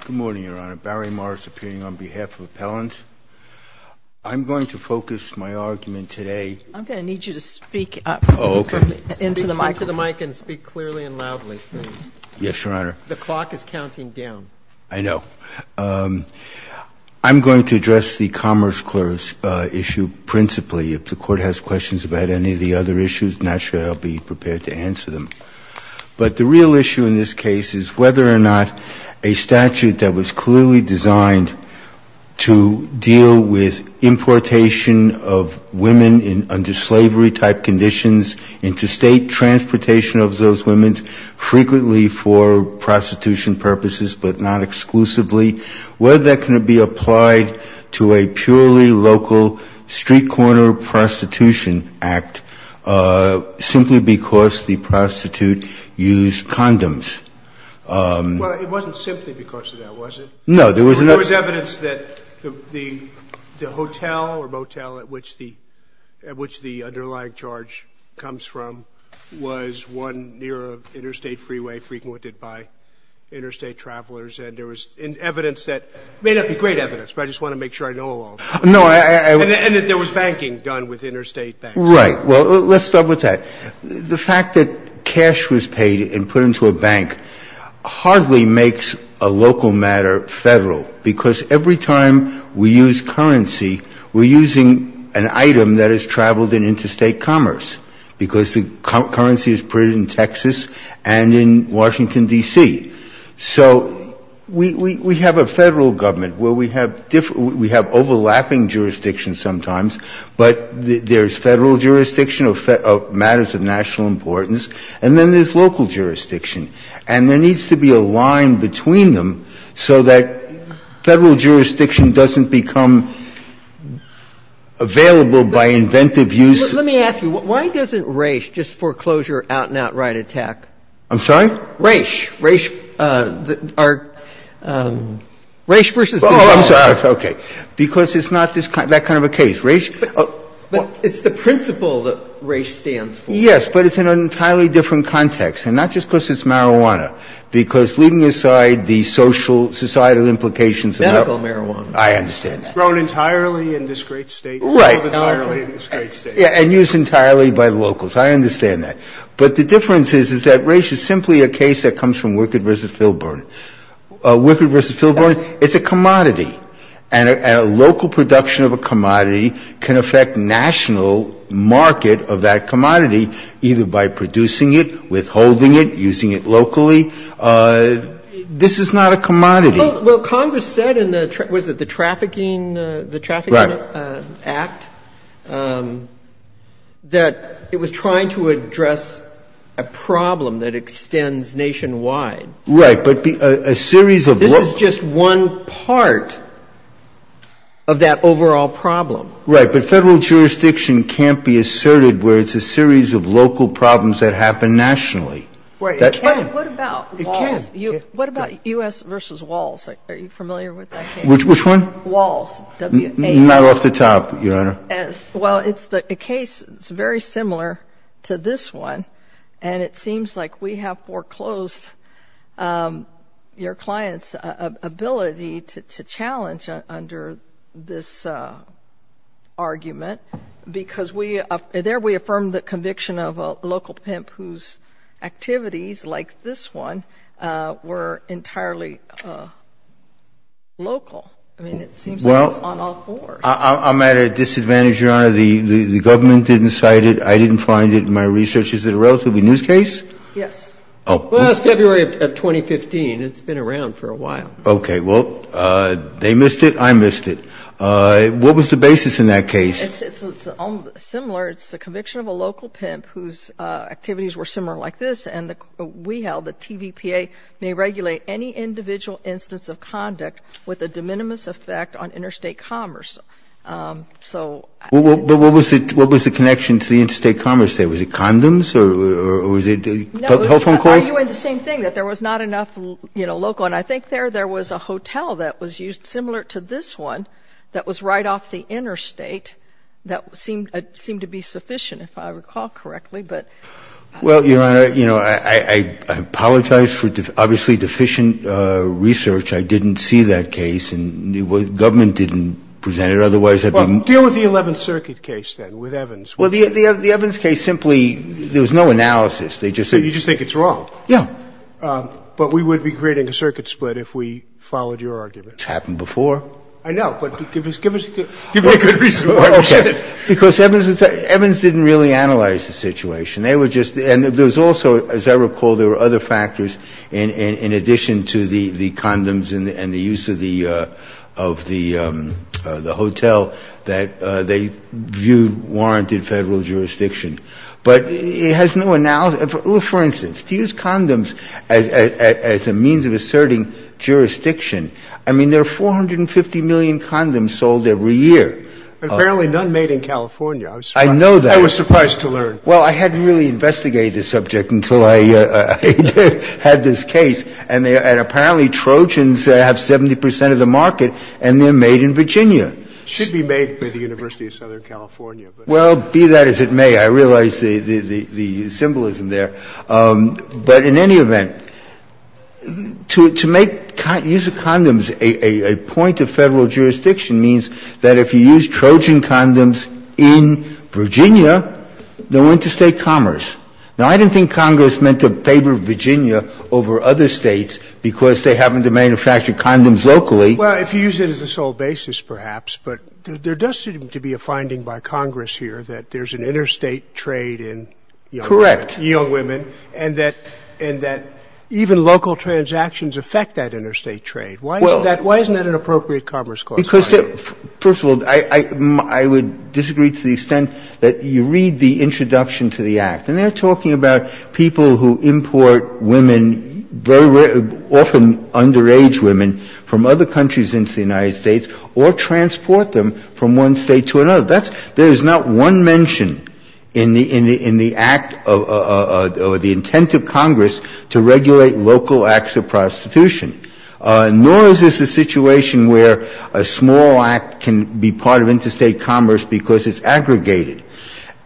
Good morning, Your Honor. Barry Morris appearing on behalf of Appellant. I'm going to focus my argument today. I'm going to need you to speak up. Oh, okay. Into the mic. Into the mic and speak clearly and loudly, please. Yes, Your Honor. The clock is counting down. I know. I'm going to address the commerce clerks issue principally. If the Court has questions about any of the other issues, naturally I'll be prepared to answer them. But the real issue in this case is whether or not a statute that was clearly designed to deal with importation of women under slavery-type conditions into state transportation of those women, frequently for prostitution purposes but not exclusively, whether that can be applied to a purely local street-corner prostitution act, simply because the prostitute used condoms. Well, it wasn't simply because of that, was it? No. There was evidence that the hotel or motel at which the underlying charge comes from was one near an interstate freeway frequented by interstate travelers. And there was evidence that – it may not be great evidence, but I just want to make sure I know all of it. No, I – And that there was banking done with interstate banks. Right. Well, let's start with that. The fact that cash was paid and put into a bank hardly makes a local matter Federal, because every time we use currency, we're using an item that has traveled in interstate commerce, because the currency is printed in Texas and in Washington, D.C. So we have a Federal government where we have different jurisdictions, we have overlapping jurisdictions sometimes, but there's Federal jurisdiction of matters of national importance, and then there's local jurisdiction. And there needs to be a line between them so that Federal jurisdiction doesn't become available by inventive use. Let me ask you, why doesn't Raich just foreclosure out-and-out right attack? I'm sorry? Raich. Raich, our – Raich versus the government. Oh, I'm sorry. Okay. Because it's not that kind of a case. Raich – But it's the principle that Raich stands for. Yes, but it's in an entirely different context, and not just because it's marijuana, because leaving aside the social, societal implications of marijuana – Medical marijuana. I understand that. Grown entirely in this great State. Right. Grown entirely in this great State. And used entirely by the locals. I understand that. But the difference is, is that Raich is simply a case that comes from Wickard v. Filburn. Wickard v. Filburn, it's a commodity. And a local production of a commodity can affect national market of that commodity either by producing it, withholding it, using it locally. This is not a commodity. Well, Congress said in the – was it the Trafficking – the Trafficking Act? Right. That it was trying to address a problem that extends nationwide. Right. But a series of local – This is just one part of that overall problem. Right. But federal jurisdiction can't be asserted where it's a series of local problems that happen nationally. Right. It can. What about Walls? What about U.S. v. Walls? Are you familiar with that case? Walls. W-A-L-L-S. Not off the top, Your Honor. Well, it's the case – it's very similar to this one, and it seems like we have foreclosed your client's ability to challenge under this argument, because we – there we affirmed the conviction of a local pimp whose activities, like this one, were entirely local. I mean, it seems like it's on all fours. I'm at a disadvantage, Your Honor. The government didn't cite it. I didn't find it in my research. Is it a relatively new case? Yes. Well, that's February of 2015. It's been around for a while. Okay. Well, they missed it. I missed it. What was the basis in that case? It's similar. It's the conviction of a local pimp whose activities were similar like this, and we held that TVPA may regulate any individual instance of conduct with a de minimis effect on interstate commerce. So – But what was the connection to the interstate commerce there? Was it condoms or was it health concourse? The same thing, that there was not enough, you know, local – and I think there was a hotel that was used similar to this one that was right off the interstate that seemed to be sufficient, if I recall correctly, but – Well, Your Honor, you know, I apologize for, obviously, deficient research. I didn't see that case, and the government didn't present it. Otherwise, I'd be – Well, deal with the 11th Circuit case, then, with Evans. You just think it's wrong. Yeah. But we would be creating a circuit split if we followed your argument. It's happened before. I know, but give us – give me a good reason why we should. Because Evans didn't really analyze the situation. They were just – and there was also, as I recall, there were other factors in addition to the condoms and the use of the hotel that they viewed warranted Federal jurisdiction. But it has no – for instance, to use condoms as a means of asserting jurisdiction, I mean, there are 450 million condoms sold every year. Apparently, none made in California. I know that. I was surprised to learn. Well, I hadn't really investigated the subject until I had this case. And apparently, Trojans have 70 percent of the market, and they're made in Virginia. It should be made by the University of Southern California. Well, be that as it may, I realize the symbolism there. But in any event, to make use of condoms a point of Federal jurisdiction means that if you use Trojan condoms in Virginia, they're going to state commerce. Now, I don't think Congress meant to favor Virginia over other States because they happen to manufacture condoms locally. Well, if you use it as a sole basis, perhaps. But there does seem to be a finding by Congress here that there's an interstate trade in young women. Correct. And that even local transactions affect that interstate trade. Why isn't that an appropriate commerce clause? First of all, I would disagree to the extent that you read the introduction to the Act, and they're talking about people who import women, often underage women, from other countries into the United States or transport them from one State to another. There is not one mention in the Act or the intent of Congress to regulate local acts of prostitution. Nor is this a situation where a small act can be part of interstate commerce because it's aggregated.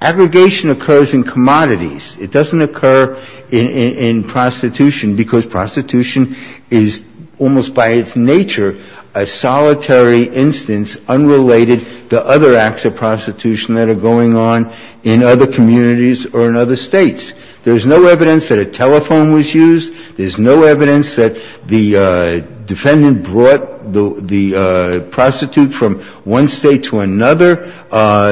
Aggregation occurs in commodities. It doesn't occur in prostitution because prostitution is almost by its nature a solitary instance unrelated to other acts of prostitution that are going on in other communities or in other States. There's no evidence that a telephone was used. There's no evidence that the defendant brought the prostitute from one State to another.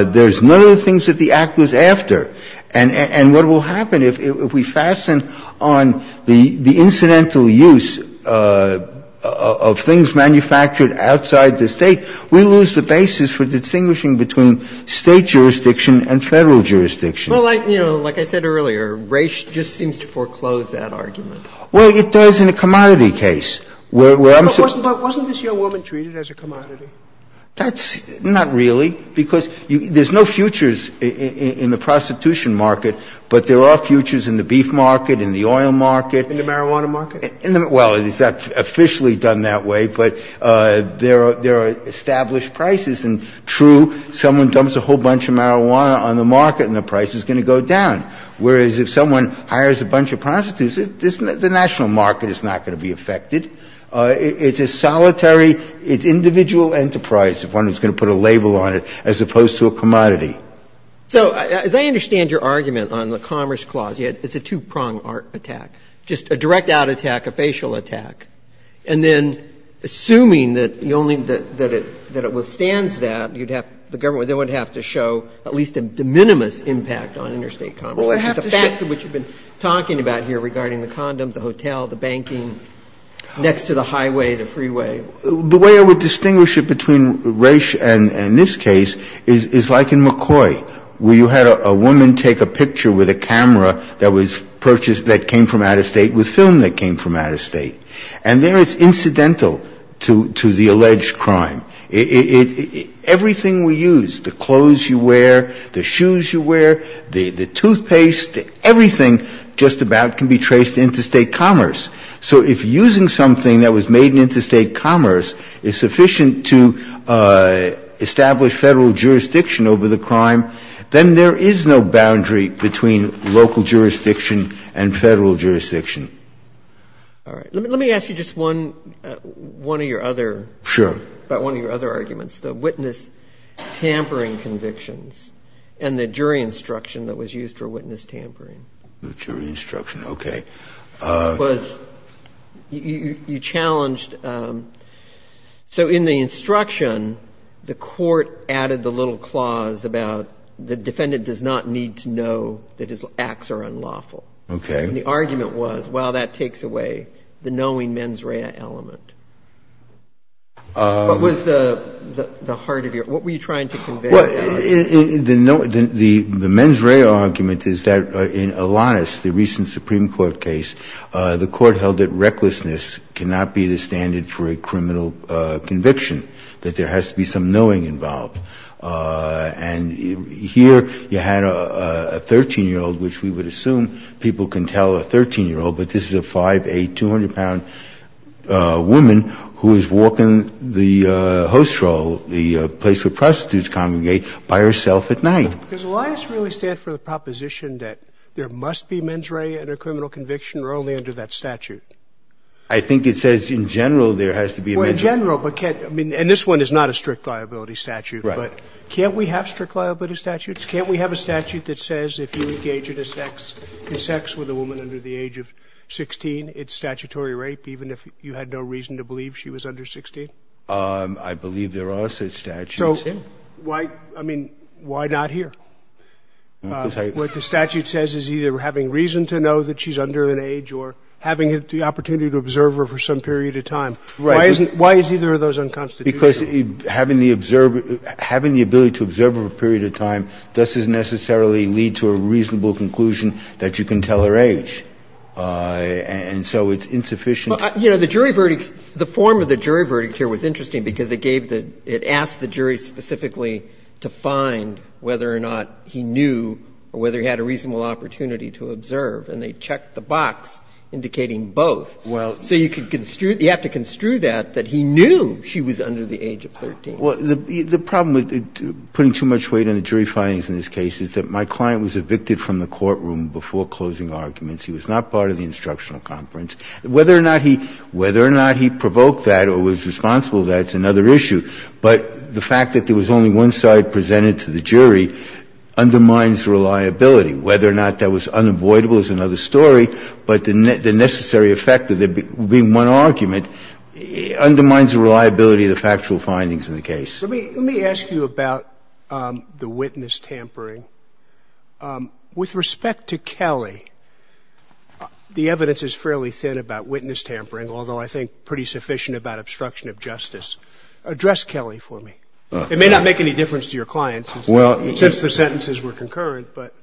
There's none of the things that the Act was after. And what will happen if we fasten on the incidental use of things manufactured outside the State, we lose the basis for distinguishing between State jurisdiction and Federal jurisdiction. Well, like, you know, like I said earlier, Raich just seems to foreclose that argument. Well, it does in a commodity case. But wasn't this young woman treated as a commodity? That's not really, because there's no futures in the prostitution market, but there are futures in the beef market, in the oil market. In the marijuana market? Well, it's not officially done that way, but there are established prices. And true, someone dumps a whole bunch of marijuana on the market and the price is going to go down. Whereas if someone hires a bunch of prostitutes, the national market is not going to be affected. It's a solitary, it's individual enterprise, if one is going to put a label on it, as opposed to a commodity. So as I understand your argument on the Commerce Clause, it's a two-pronged art attack, just a direct out attack, a facial attack. And then assuming that the only, that it withstands that, you'd have the government, they would have to show at least a de minimis impact on interstate commerce. Well, I think it's a two-pronged art attack. So you're saying that you don't have to show the facts, but you don't have to show the facts. You don't have to show the facts of what you've been talking about here regarding the condoms, the hotel, the banking, next to the highway, the freeway. The way I would distinguish it between Raich and this case is like in McCoy, where you had a woman take a picture with a camera that was purchased, that came from out of State. And there it's incidental to the alleged crime. Everything we use, the clothes you wear, the shoes you wear, the toothpaste, everything just about can be traced to interstate commerce. So if using something that was made in interstate commerce is sufficient to establish Federal jurisdiction over the crime, then there is no boundary between local jurisdiction and Federal jurisdiction. All right. Let me ask you just one of your other. Sure. About one of your other arguments, the witness tampering convictions and the jury instruction that was used for witness tampering. The jury instruction. Okay. You challenged. So in the instruction, the Court added the little clause about the defendant does not need to know that his acts are unlawful. Okay. And the argument was, well, that takes away the knowing mens rea element. What was the heart of your, what were you trying to convey? Well, the mens rea argument is that in Alanis, the recent Supreme Court case, the Court held that recklessness cannot be the standard for a criminal conviction, that there has to be some knowing involved. And here you had a 13-year-old, which we would assume people can tell a 13-year-old, but this is a 5'8", 200-pound woman who is walking the host role, the place where prostitutes congregate, by herself at night. Does Alanis really stand for the proposition that there must be mens rea in a criminal conviction or only under that statute? Well, in general. And this one is not a strict liability statute. Right. But can't we have strict liability statutes? Can't we have a statute that says if you engage in a sex with a woman under the age of 16, it's statutory rape, even if you had no reason to believe she was under 16? I believe there are such statutes. So why, I mean, why not here? What the statute says is either having reason to know that she's under an age or having the opportunity to observe her for some period of time. Right. Why is either of those unconstitutional? Because having the ability to observe her for a period of time doesn't necessarily lead to a reasonable conclusion that you can tell her age. And so it's insufficient. Well, you know, the jury verdicts, the form of the jury verdict here was interesting because it gave the – it asked the jury specifically to find whether or not he knew or whether he had a reasonable opportunity to observe. And they checked the box indicating both. Well, so you have to construe that, that he knew she was under the age of 13. Well, the problem with putting too much weight on the jury findings in this case is that my client was evicted from the courtroom before closing arguments. He was not part of the instructional conference. Whether or not he provoked that or was responsible for that is another issue. But the fact that there was only one side presented to the jury undermines reliability. Whether or not that was unavoidable is another story. But the necessary effect of there being one argument undermines the reliability of the factual findings in the case. Let me ask you about the witness tampering. With respect to Kelley, the evidence is fairly thin about witness tampering, although I think pretty sufficient about obstruction of justice. Address Kelley for me. It may not make any difference to your client since the sentences were concurrent, but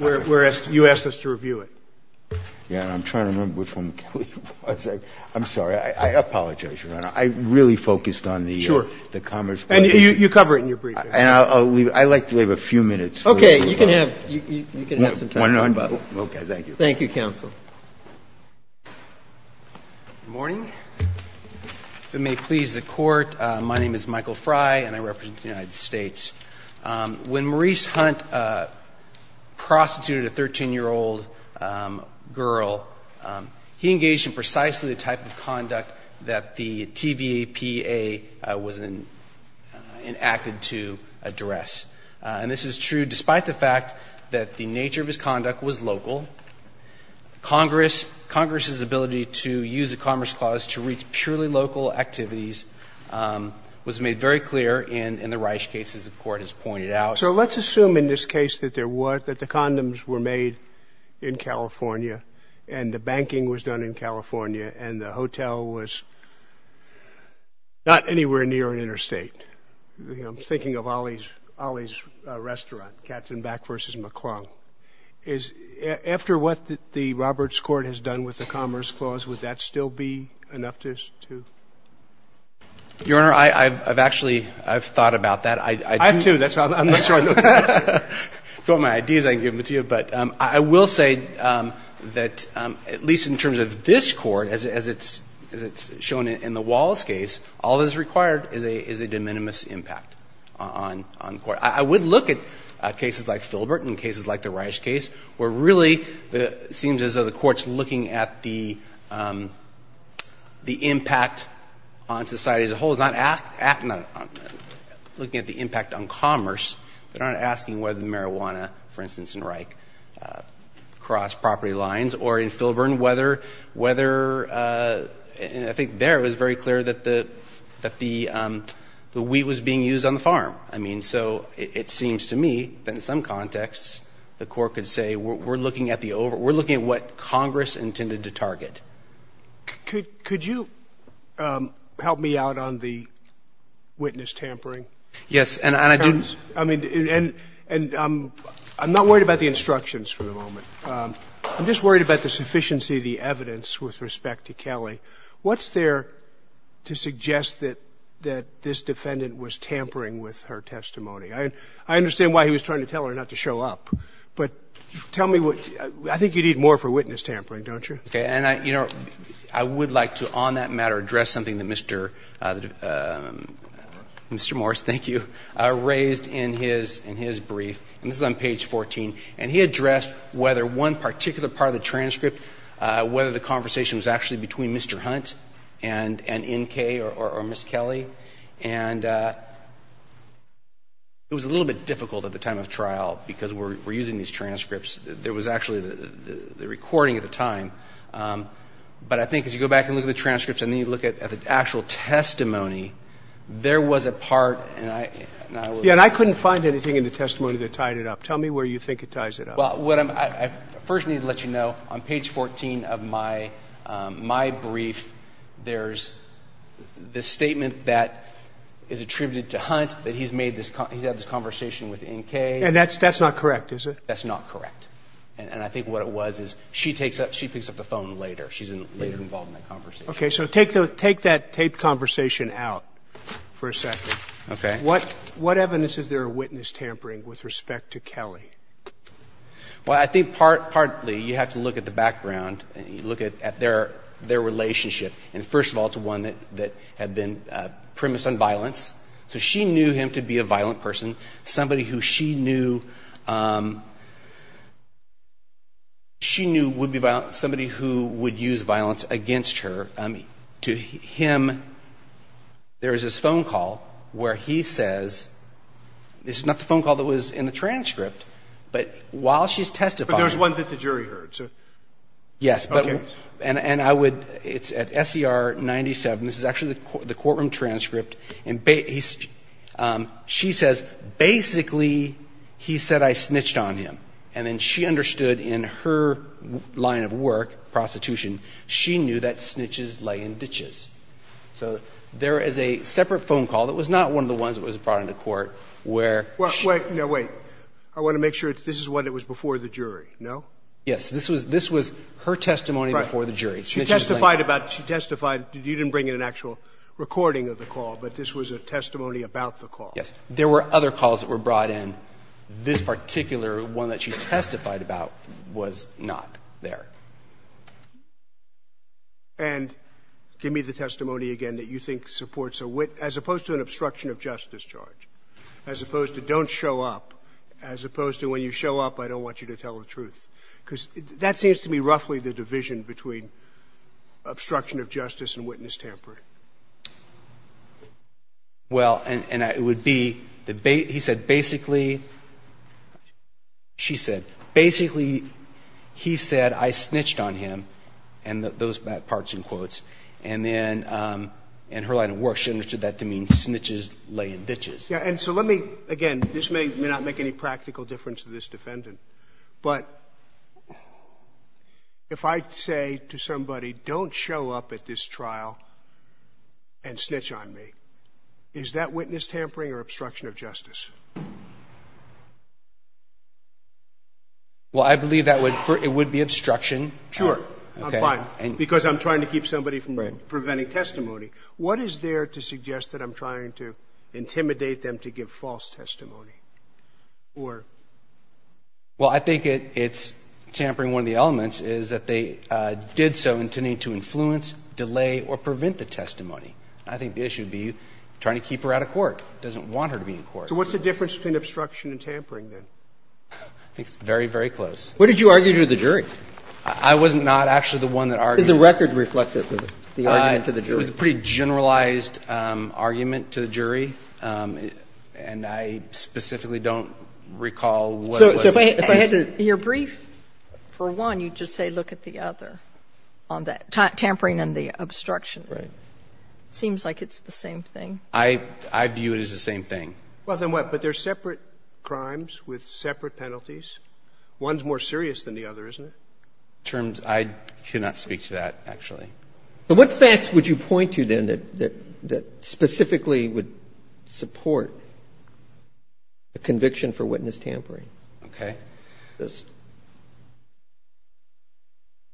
you asked us to review it. Yeah, and I'm trying to remember which one Kelley was. I'm sorry. I apologize, Your Honor. I really focused on the commerce question. And you cover it in your briefing. And I'll leave it. I'd like to leave a few minutes. Okay. You can have some time. Okay, thank you. Thank you, counsel. Good morning. If it may please the Court, my name is Michael Fry, and I represent the United States. When Maurice Hunt prostituted a 13-year-old girl, he engaged in precisely the type of conduct that the TVAPA was enacted to address. And this is true despite the fact that the nature of his conduct was local. Congress's ability to use the Commerce Clause to reach purely local activities was made very clear in the Reich case, as the Court has pointed out. So let's assume in this case that there was, that the condoms were made in California and the banking was done in California and the hotel was not anywhere near an interstate. I'm thinking of Ollie's Restaurant, Katzenbach v. McClung. After what the Roberts Court has done with the Commerce Clause, would that still be enough to? Your Honor, I've actually, I've thought about that. I do. I'm not sure I know the answer. If you want my ideas, I can give them to you. But I will say that at least in terms of this Court, as it's shown in the Wallace case, all that is required is a de minimis impact on the Court. I would look at cases like Filbert and cases like the Reich case, where really it seems as though the Court's looking at the impact on society as a whole. It's not looking at the impact on commerce. They're not asking whether the marijuana, for instance in Reich, crossed property lines. Or in Filbert, whether, I think there it was very clear that the wheat was being used on the farm. I mean, so it seems to me that in some contexts the Court could say, we're looking at the over, we're looking at what Congress intended to target. Could you help me out on the witness tampering? Yes. And I didn't, I mean, and I'm not worried about the instructions for the moment. I'm just worried about the sufficiency of the evidence with respect to Kelly. What's there to suggest that this defendant was tampering with her testimony? I understand why he was trying to tell her not to show up. But tell me what, I think you'd need more for witness tampering, don't you? Okay. And I, you know, I would like to on that matter address something that Mr. Morris, thank you, raised in his brief. And this is on page 14. And he addressed whether one particular part of the transcript, whether the conversation was actually between Mr. Hunt and N.K. or Ms. Kelly. And it was a little bit difficult at the time of trial because we're using these transcripts. There was actually the recording at the time. But I think as you go back and look at the transcripts and then you look at the actual testimony, there was a part, and I, and I will. Yeah, and I couldn't find anything in the testimony that tied it up. Tell me where you think it ties it up. Well, what I first need to let you know, on page 14 of my, my brief, there's this statement that is attributed to Hunt that he's made this, he's had this conversation with N.K. And that's, that's not correct, is it? That's not correct. And I think what it was is she takes up, she picks up the phone later. She's later involved in that conversation. Okay, so take the, take that taped conversation out for a second. Okay. What, what evidence is there of witness tampering with respect to Kelly? Well, I think part, partly you have to look at the background and you look at, at their, their relationship. And first of all, it's one that, that had been premised on violence. So she knew him to be a violent person. Somebody who she knew, she knew would be violent, somebody who would use violence against her. To him, there's this phone call where he says, this is not the phone call that was in the court, but while she's testifying. But there's one that the jury heard, so. Yes, but, and I would, it's at SCR 97, this is actually the courtroom transcript. And she says, basically, he said I snitched on him. And then she understood in her line of work, prostitution, she knew that snitches lay in ditches. So there is a separate phone call that was not one of the ones that was brought into court where she. Wait, no, wait. I want to make sure that this is one that was before the jury, no? Yes. This was, this was her testimony before the jury. She testified about, she testified, you didn't bring in an actual recording of the call, but this was a testimony about the call. Yes. There were other calls that were brought in. This particular one that she testified about was not there. And give me the testimony again that you think supports a wit, as opposed to an obstruction of justice charge, as opposed to don't show up, as opposed to when you show up, I don't want you to tell the truth. Because that seems to be roughly the division between obstruction of justice and witness tampering. Well, and it would be, he said, basically, she said, basically, he said I snitched on him, and those are bad parts in quotes. And then, and her line of work, she understood that to mean snitches lay in ditches. Yeah, and so let me, again, this may not make any practical difference to this defendant, but if I say to somebody, don't show up at this trial and snitch on me, is that witness tampering or obstruction of justice? Well, I believe that would, it would be obstruction. Sure. I'm fine, because I'm trying to keep somebody from preventing testimony. What is there to suggest that I'm trying to intimidate them to give false testimony? Or? Well, I think it's tampering. One of the elements is that they did so to need to influence, delay, or prevent the testimony. I think the issue would be trying to keep her out of court, doesn't want her to be in court. So what's the difference between obstruction and tampering, then? I think it's very, very close. What did you argue to the jury? I wasn't not actually the one that argued. Does the record reflect the argument to the jury? It was a pretty generalized argument to the jury. And I specifically don't recall what it was. So if I had to. Your brief, for one, you just say, look at the other on that tampering and the obstruction. Right. Seems like it's the same thing. I view it as the same thing. Well, then what? But they're separate crimes with separate penalties. One's more serious than the other, isn't it? Terms, I cannot speak to that, actually. But what facts would you point to, then, that specifically would support a conviction for witness tampering? Okay.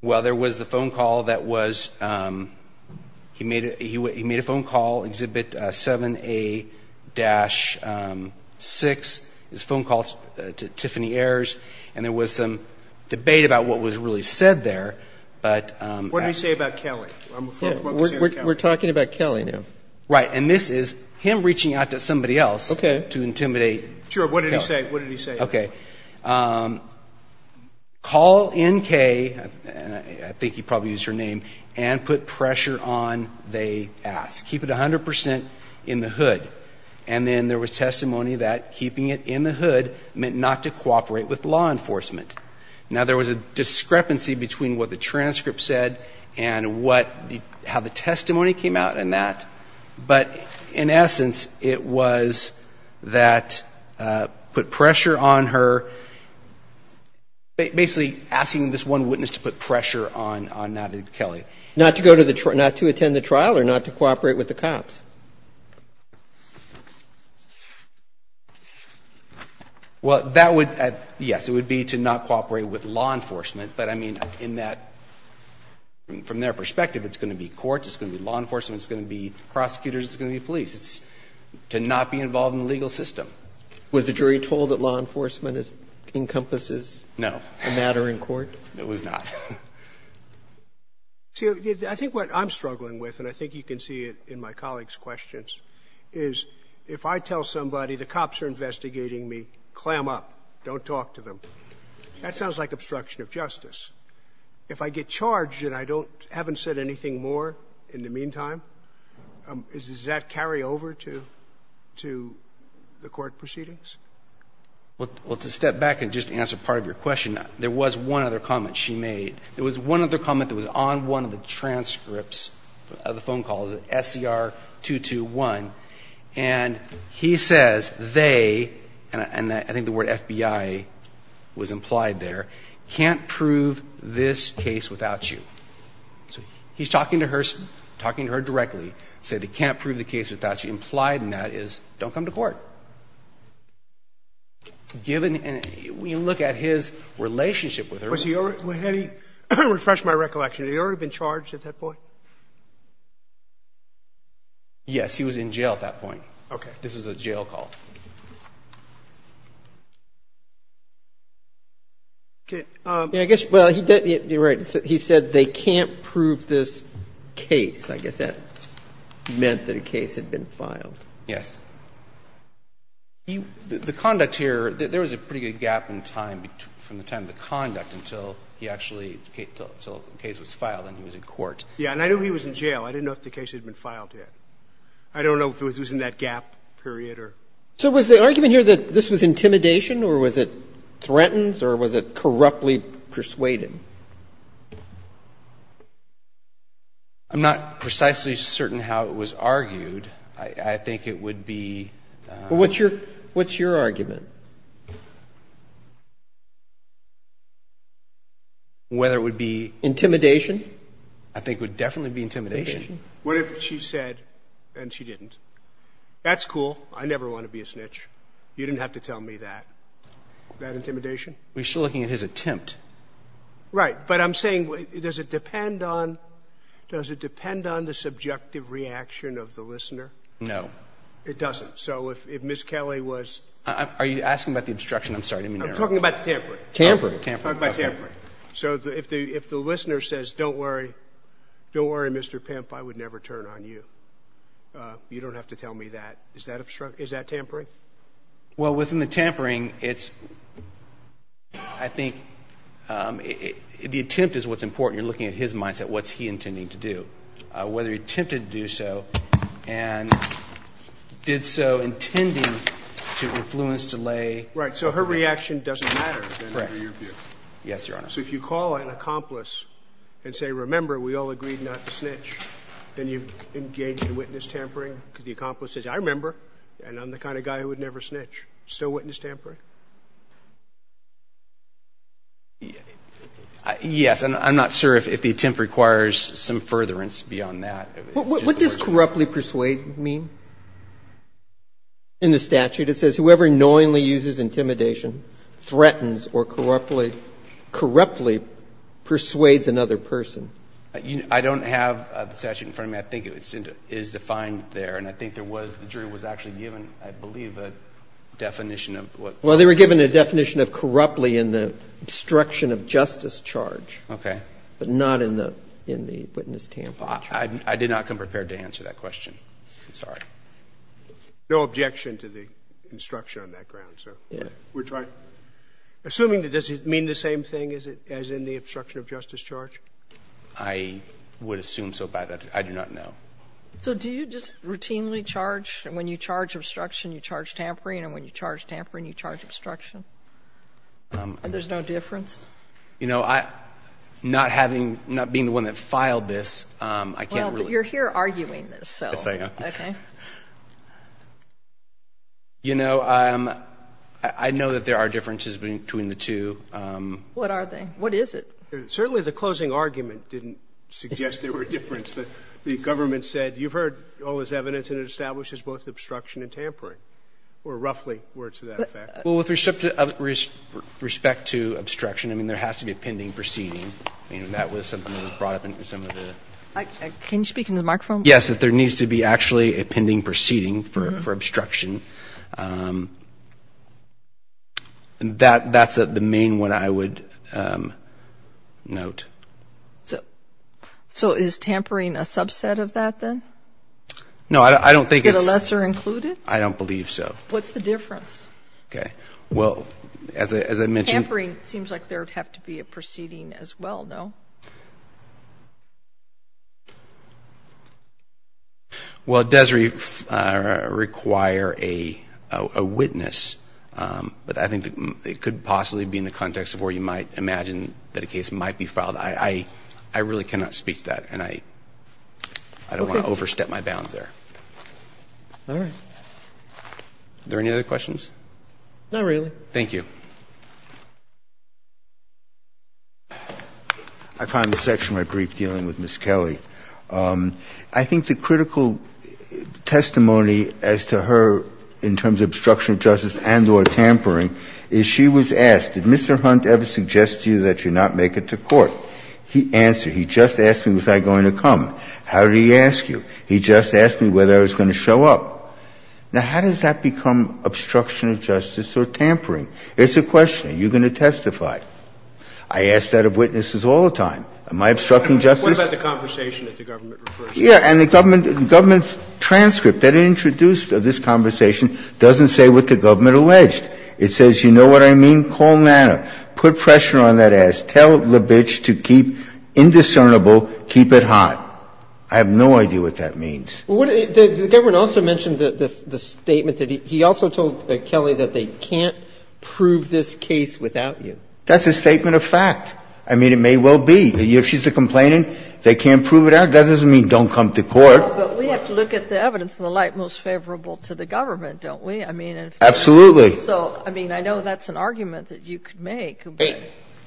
Well, there was the phone call that was, he made a phone call, Exhibit 7A-6, his phone call, and there was some debate about what was really said there. But what did he say about Kelly? We're talking about Kelly now. Right. And this is him reaching out to somebody else to intimidate. Sure. What did he say? What did he say? Okay. Call NK, and I think he probably used her name, and put pressure on they ask. Keep it 100% in the hood. And then there was testimony that keeping it in the hood meant not to cooperate with law enforcement. Now, there was a discrepancy between what the transcript said and how the testimony came out in that. But in essence, it was that put pressure on her, basically asking this one witness to put pressure on Natalie Kelly. Not to attend the trial or not to cooperate with the cops? Well, that would, yes, it would be to not cooperate with law enforcement. But I mean, in that, from their perspective, it's going to be courts, it's going to be law enforcement, it's going to be prosecutors, it's going to be police. It's to not be involved in the legal system. Was the jury told that law enforcement encompasses the matter in court? No. It was not. See, I think what I'm struggling with, and I think you can see it in my colleague's questions, is if I tell somebody, the cops are investigating me, clam up, don't talk to them, that sounds like obstruction of justice. If I get charged and I haven't said anything more in the meantime, does that carry over to the court proceedings? Well, to step back and just answer part of your question, there was one other comment she made. There was one other comment that was on one of the transcripts of the phone call, SCR-221, and he says they, and I think the word FBI was implied there, can't prove this case without you. So he's talking to her, talking to her directly, said they can't prove the case without you, implied in that is don't come to court. Given and when you look at his relationship with her. Was he already, refresh my recollection, had he already been charged at that point? Yes, he was in jail at that point. Okay. This was a jail call. Okay. I guess, well, you're right. He said they can't prove this case. I guess that meant that a case had been filed. Yes. The conduct here, there was a pretty good gap in time from the time of the conduct until he actually, until the case was filed and he was in court. Yes, and I knew he was in jail. I didn't know if the case had been filed yet. I don't know if it was in that gap period or. So was the argument here that this was intimidation or was it threatens or was it corruptly persuaded? I'm not precisely certain how it was argued. I think it would be. What's your, what's your argument? Whether it would be. Intimidation? I think it would definitely be intimidation. What if she said, and she didn't, that's cool, I never want to be a snitch, you didn't have to tell me that, that intimidation? We're still looking at his attempt. Right. But I'm saying, does it depend on, does it depend on the subjective reaction of the listener? No. It doesn't. So if Ms. Kelly was. Are you asking about the obstruction? I'm sorry, I didn't mean to interrupt. I'm talking about the tampering. Tampering. Tampering. I'm talking about tampering. So if the, if the listener says, don't worry, don't worry, Mr. Pimp, I would never turn on you. You don't have to tell me that. Is that obstruction, is that tampering? Well, within the tampering, it's, I think, the attempt is what's important. You're looking at his mindset. What's he intending to do? Whether he attempted to do so and did so intending to influence, delay. Right. So her reaction doesn't matter. Correct. So if you call an accomplice and say, remember, we all agreed not to snitch, then you've engaged in witness tampering, because the accomplice says, I remember, and I'm the kind of guy who would never snitch. Still witness tampering? Yes. I'm not sure if the attempt requires some furtherance beyond that. What does corruptly persuade mean? In the statute, it says, whoever knowingly uses intimidation, threatens or corrupts or corruptly persuades another person. I don't have the statute in front of me. I think it is defined there. And I think there was, the jury was actually given, I believe, a definition of what. Well, they were given a definition of corruptly in the obstruction of justice charge. Okay. But not in the witness tampering charge. I did not come prepared to answer that question. I'm sorry. No objection to the obstruction on that ground, sir. Yes. We're trying. Assuming that, does it mean the same thing as in the obstruction of justice charge? I would assume so, but I do not know. So do you just routinely charge? When you charge obstruction, you charge tampering, and when you charge tampering, you charge obstruction? There's no difference? You know, I'm not having, not being the one that filed this, I can't really. Well, but you're here arguing this, so. Yes, I am. Okay. You know, I know that there are differences between the two. What are they? What is it? Certainly the closing argument didn't suggest there were differences. The government said, you've heard all this evidence, and it establishes both obstruction and tampering, or roughly words to that effect. Well, with respect to obstruction, I mean, there has to be a pending proceeding. I mean, that was something that was brought up in some of the. Can you speak into the microphone? Yes, that there needs to be actually a pending proceeding for obstruction. That's the main one I would note. So is tampering a subset of that, then? No, I don't think it's. Is it a lesser included? I don't believe so. What's the difference? Okay. Well, as I mentioned. Tampering seems like there would have to be a proceeding as well, no? Well, it does require a witness, but I think it could possibly be in the context of where you might imagine that a case might be filed. I really cannot speak to that, and I don't want to overstep my bounds there. All right. Are there any other questions? Not really. Thank you. I find this section of my brief dealing with Ms. Kelly. I think the critical testimony as to her in terms of obstruction of justice and or tampering is she was asked, did Mr. Hunt ever suggest to you that you not make it to court? He answered, he just asked me was I going to come. How did he ask you? He just asked me whether I was going to show up. Now, how does that become obstruction of justice or tampering? It's a question. Are you going to testify? I ask that of witnesses all the time. Am I obstructing justice? What about the conversation that the government refers to? Yeah. And the government's transcript that introduced this conversation doesn't say what the government alleged. It says, you know what I mean? Call NANA. Put pressure on that ass. Tell LaBiche to keep indiscernible, keep it hot. I have no idea what that means. The government also mentioned the statement that he also told Kelly that they can't prove this case without you. That's a statement of fact. I mean, it may well be. If she's a complainant, they can't prove it out. That doesn't mean don't come to court. But we have to look at the evidence in the light most favorable to the government, don't we? Absolutely. So, I mean, I know that's an argument that you could make.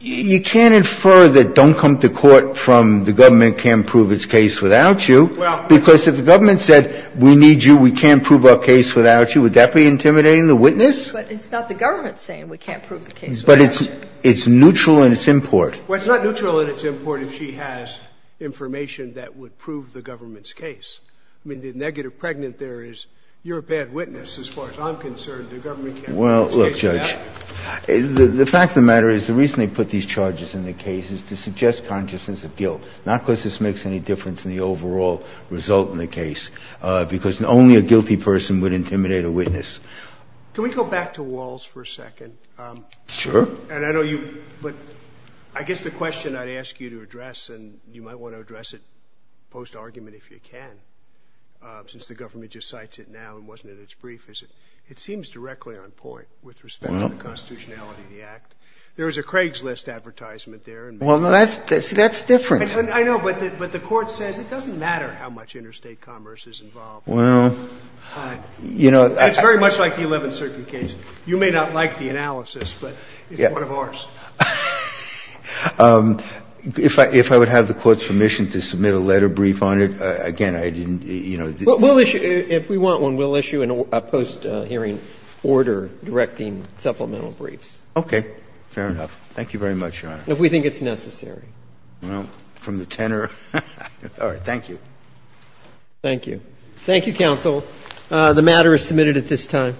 You can't infer that don't come to court from the government can't prove its case without you. Because if the government said we need you, we can't prove our case without you, would that be intimidating the witness? But it's not the government saying we can't prove the case without you. But it's neutral in its import. Well, it's not neutral in its import if she has information that would prove the government's case. I mean, the negative pregnant there is you're a bad witness as far as I'm concerned. The government can't prove its case without you. Well, look, Judge, the fact of the matter is the reason they put these charges in the case is to suggest consciousness of guilt, not because this makes any difference in the overall result in the case, because only a guilty person would intimidate a witness. Can we go back to Walz for a second? Sure. And I know you – but I guess the question I'd ask you to address, and you might want to address it post-argument if you can, since the government just cites it now and wasn't in its brief, is it seems directly on point with respect to the constitutionality of the act. There is a Craigslist advertisement there. Well, that's different. I know, but the Court says it doesn't matter how much interstate commerce is involved. Well, you know – It's very much like the Eleventh Circuit case. You may not like the analysis, but it's one of ours. If I would have the Court's permission to submit a letter brief on it, again, I didn't, you know – Well, we'll issue – if we want one, we'll issue a post-hearing order directing supplemental briefs. Okay. Fair enough. Thank you very much, Your Honor. If we think it's necessary. Well, from the tenor – all right. Thank you. Thank you. Thank you, counsel. The matter is submitted at this time.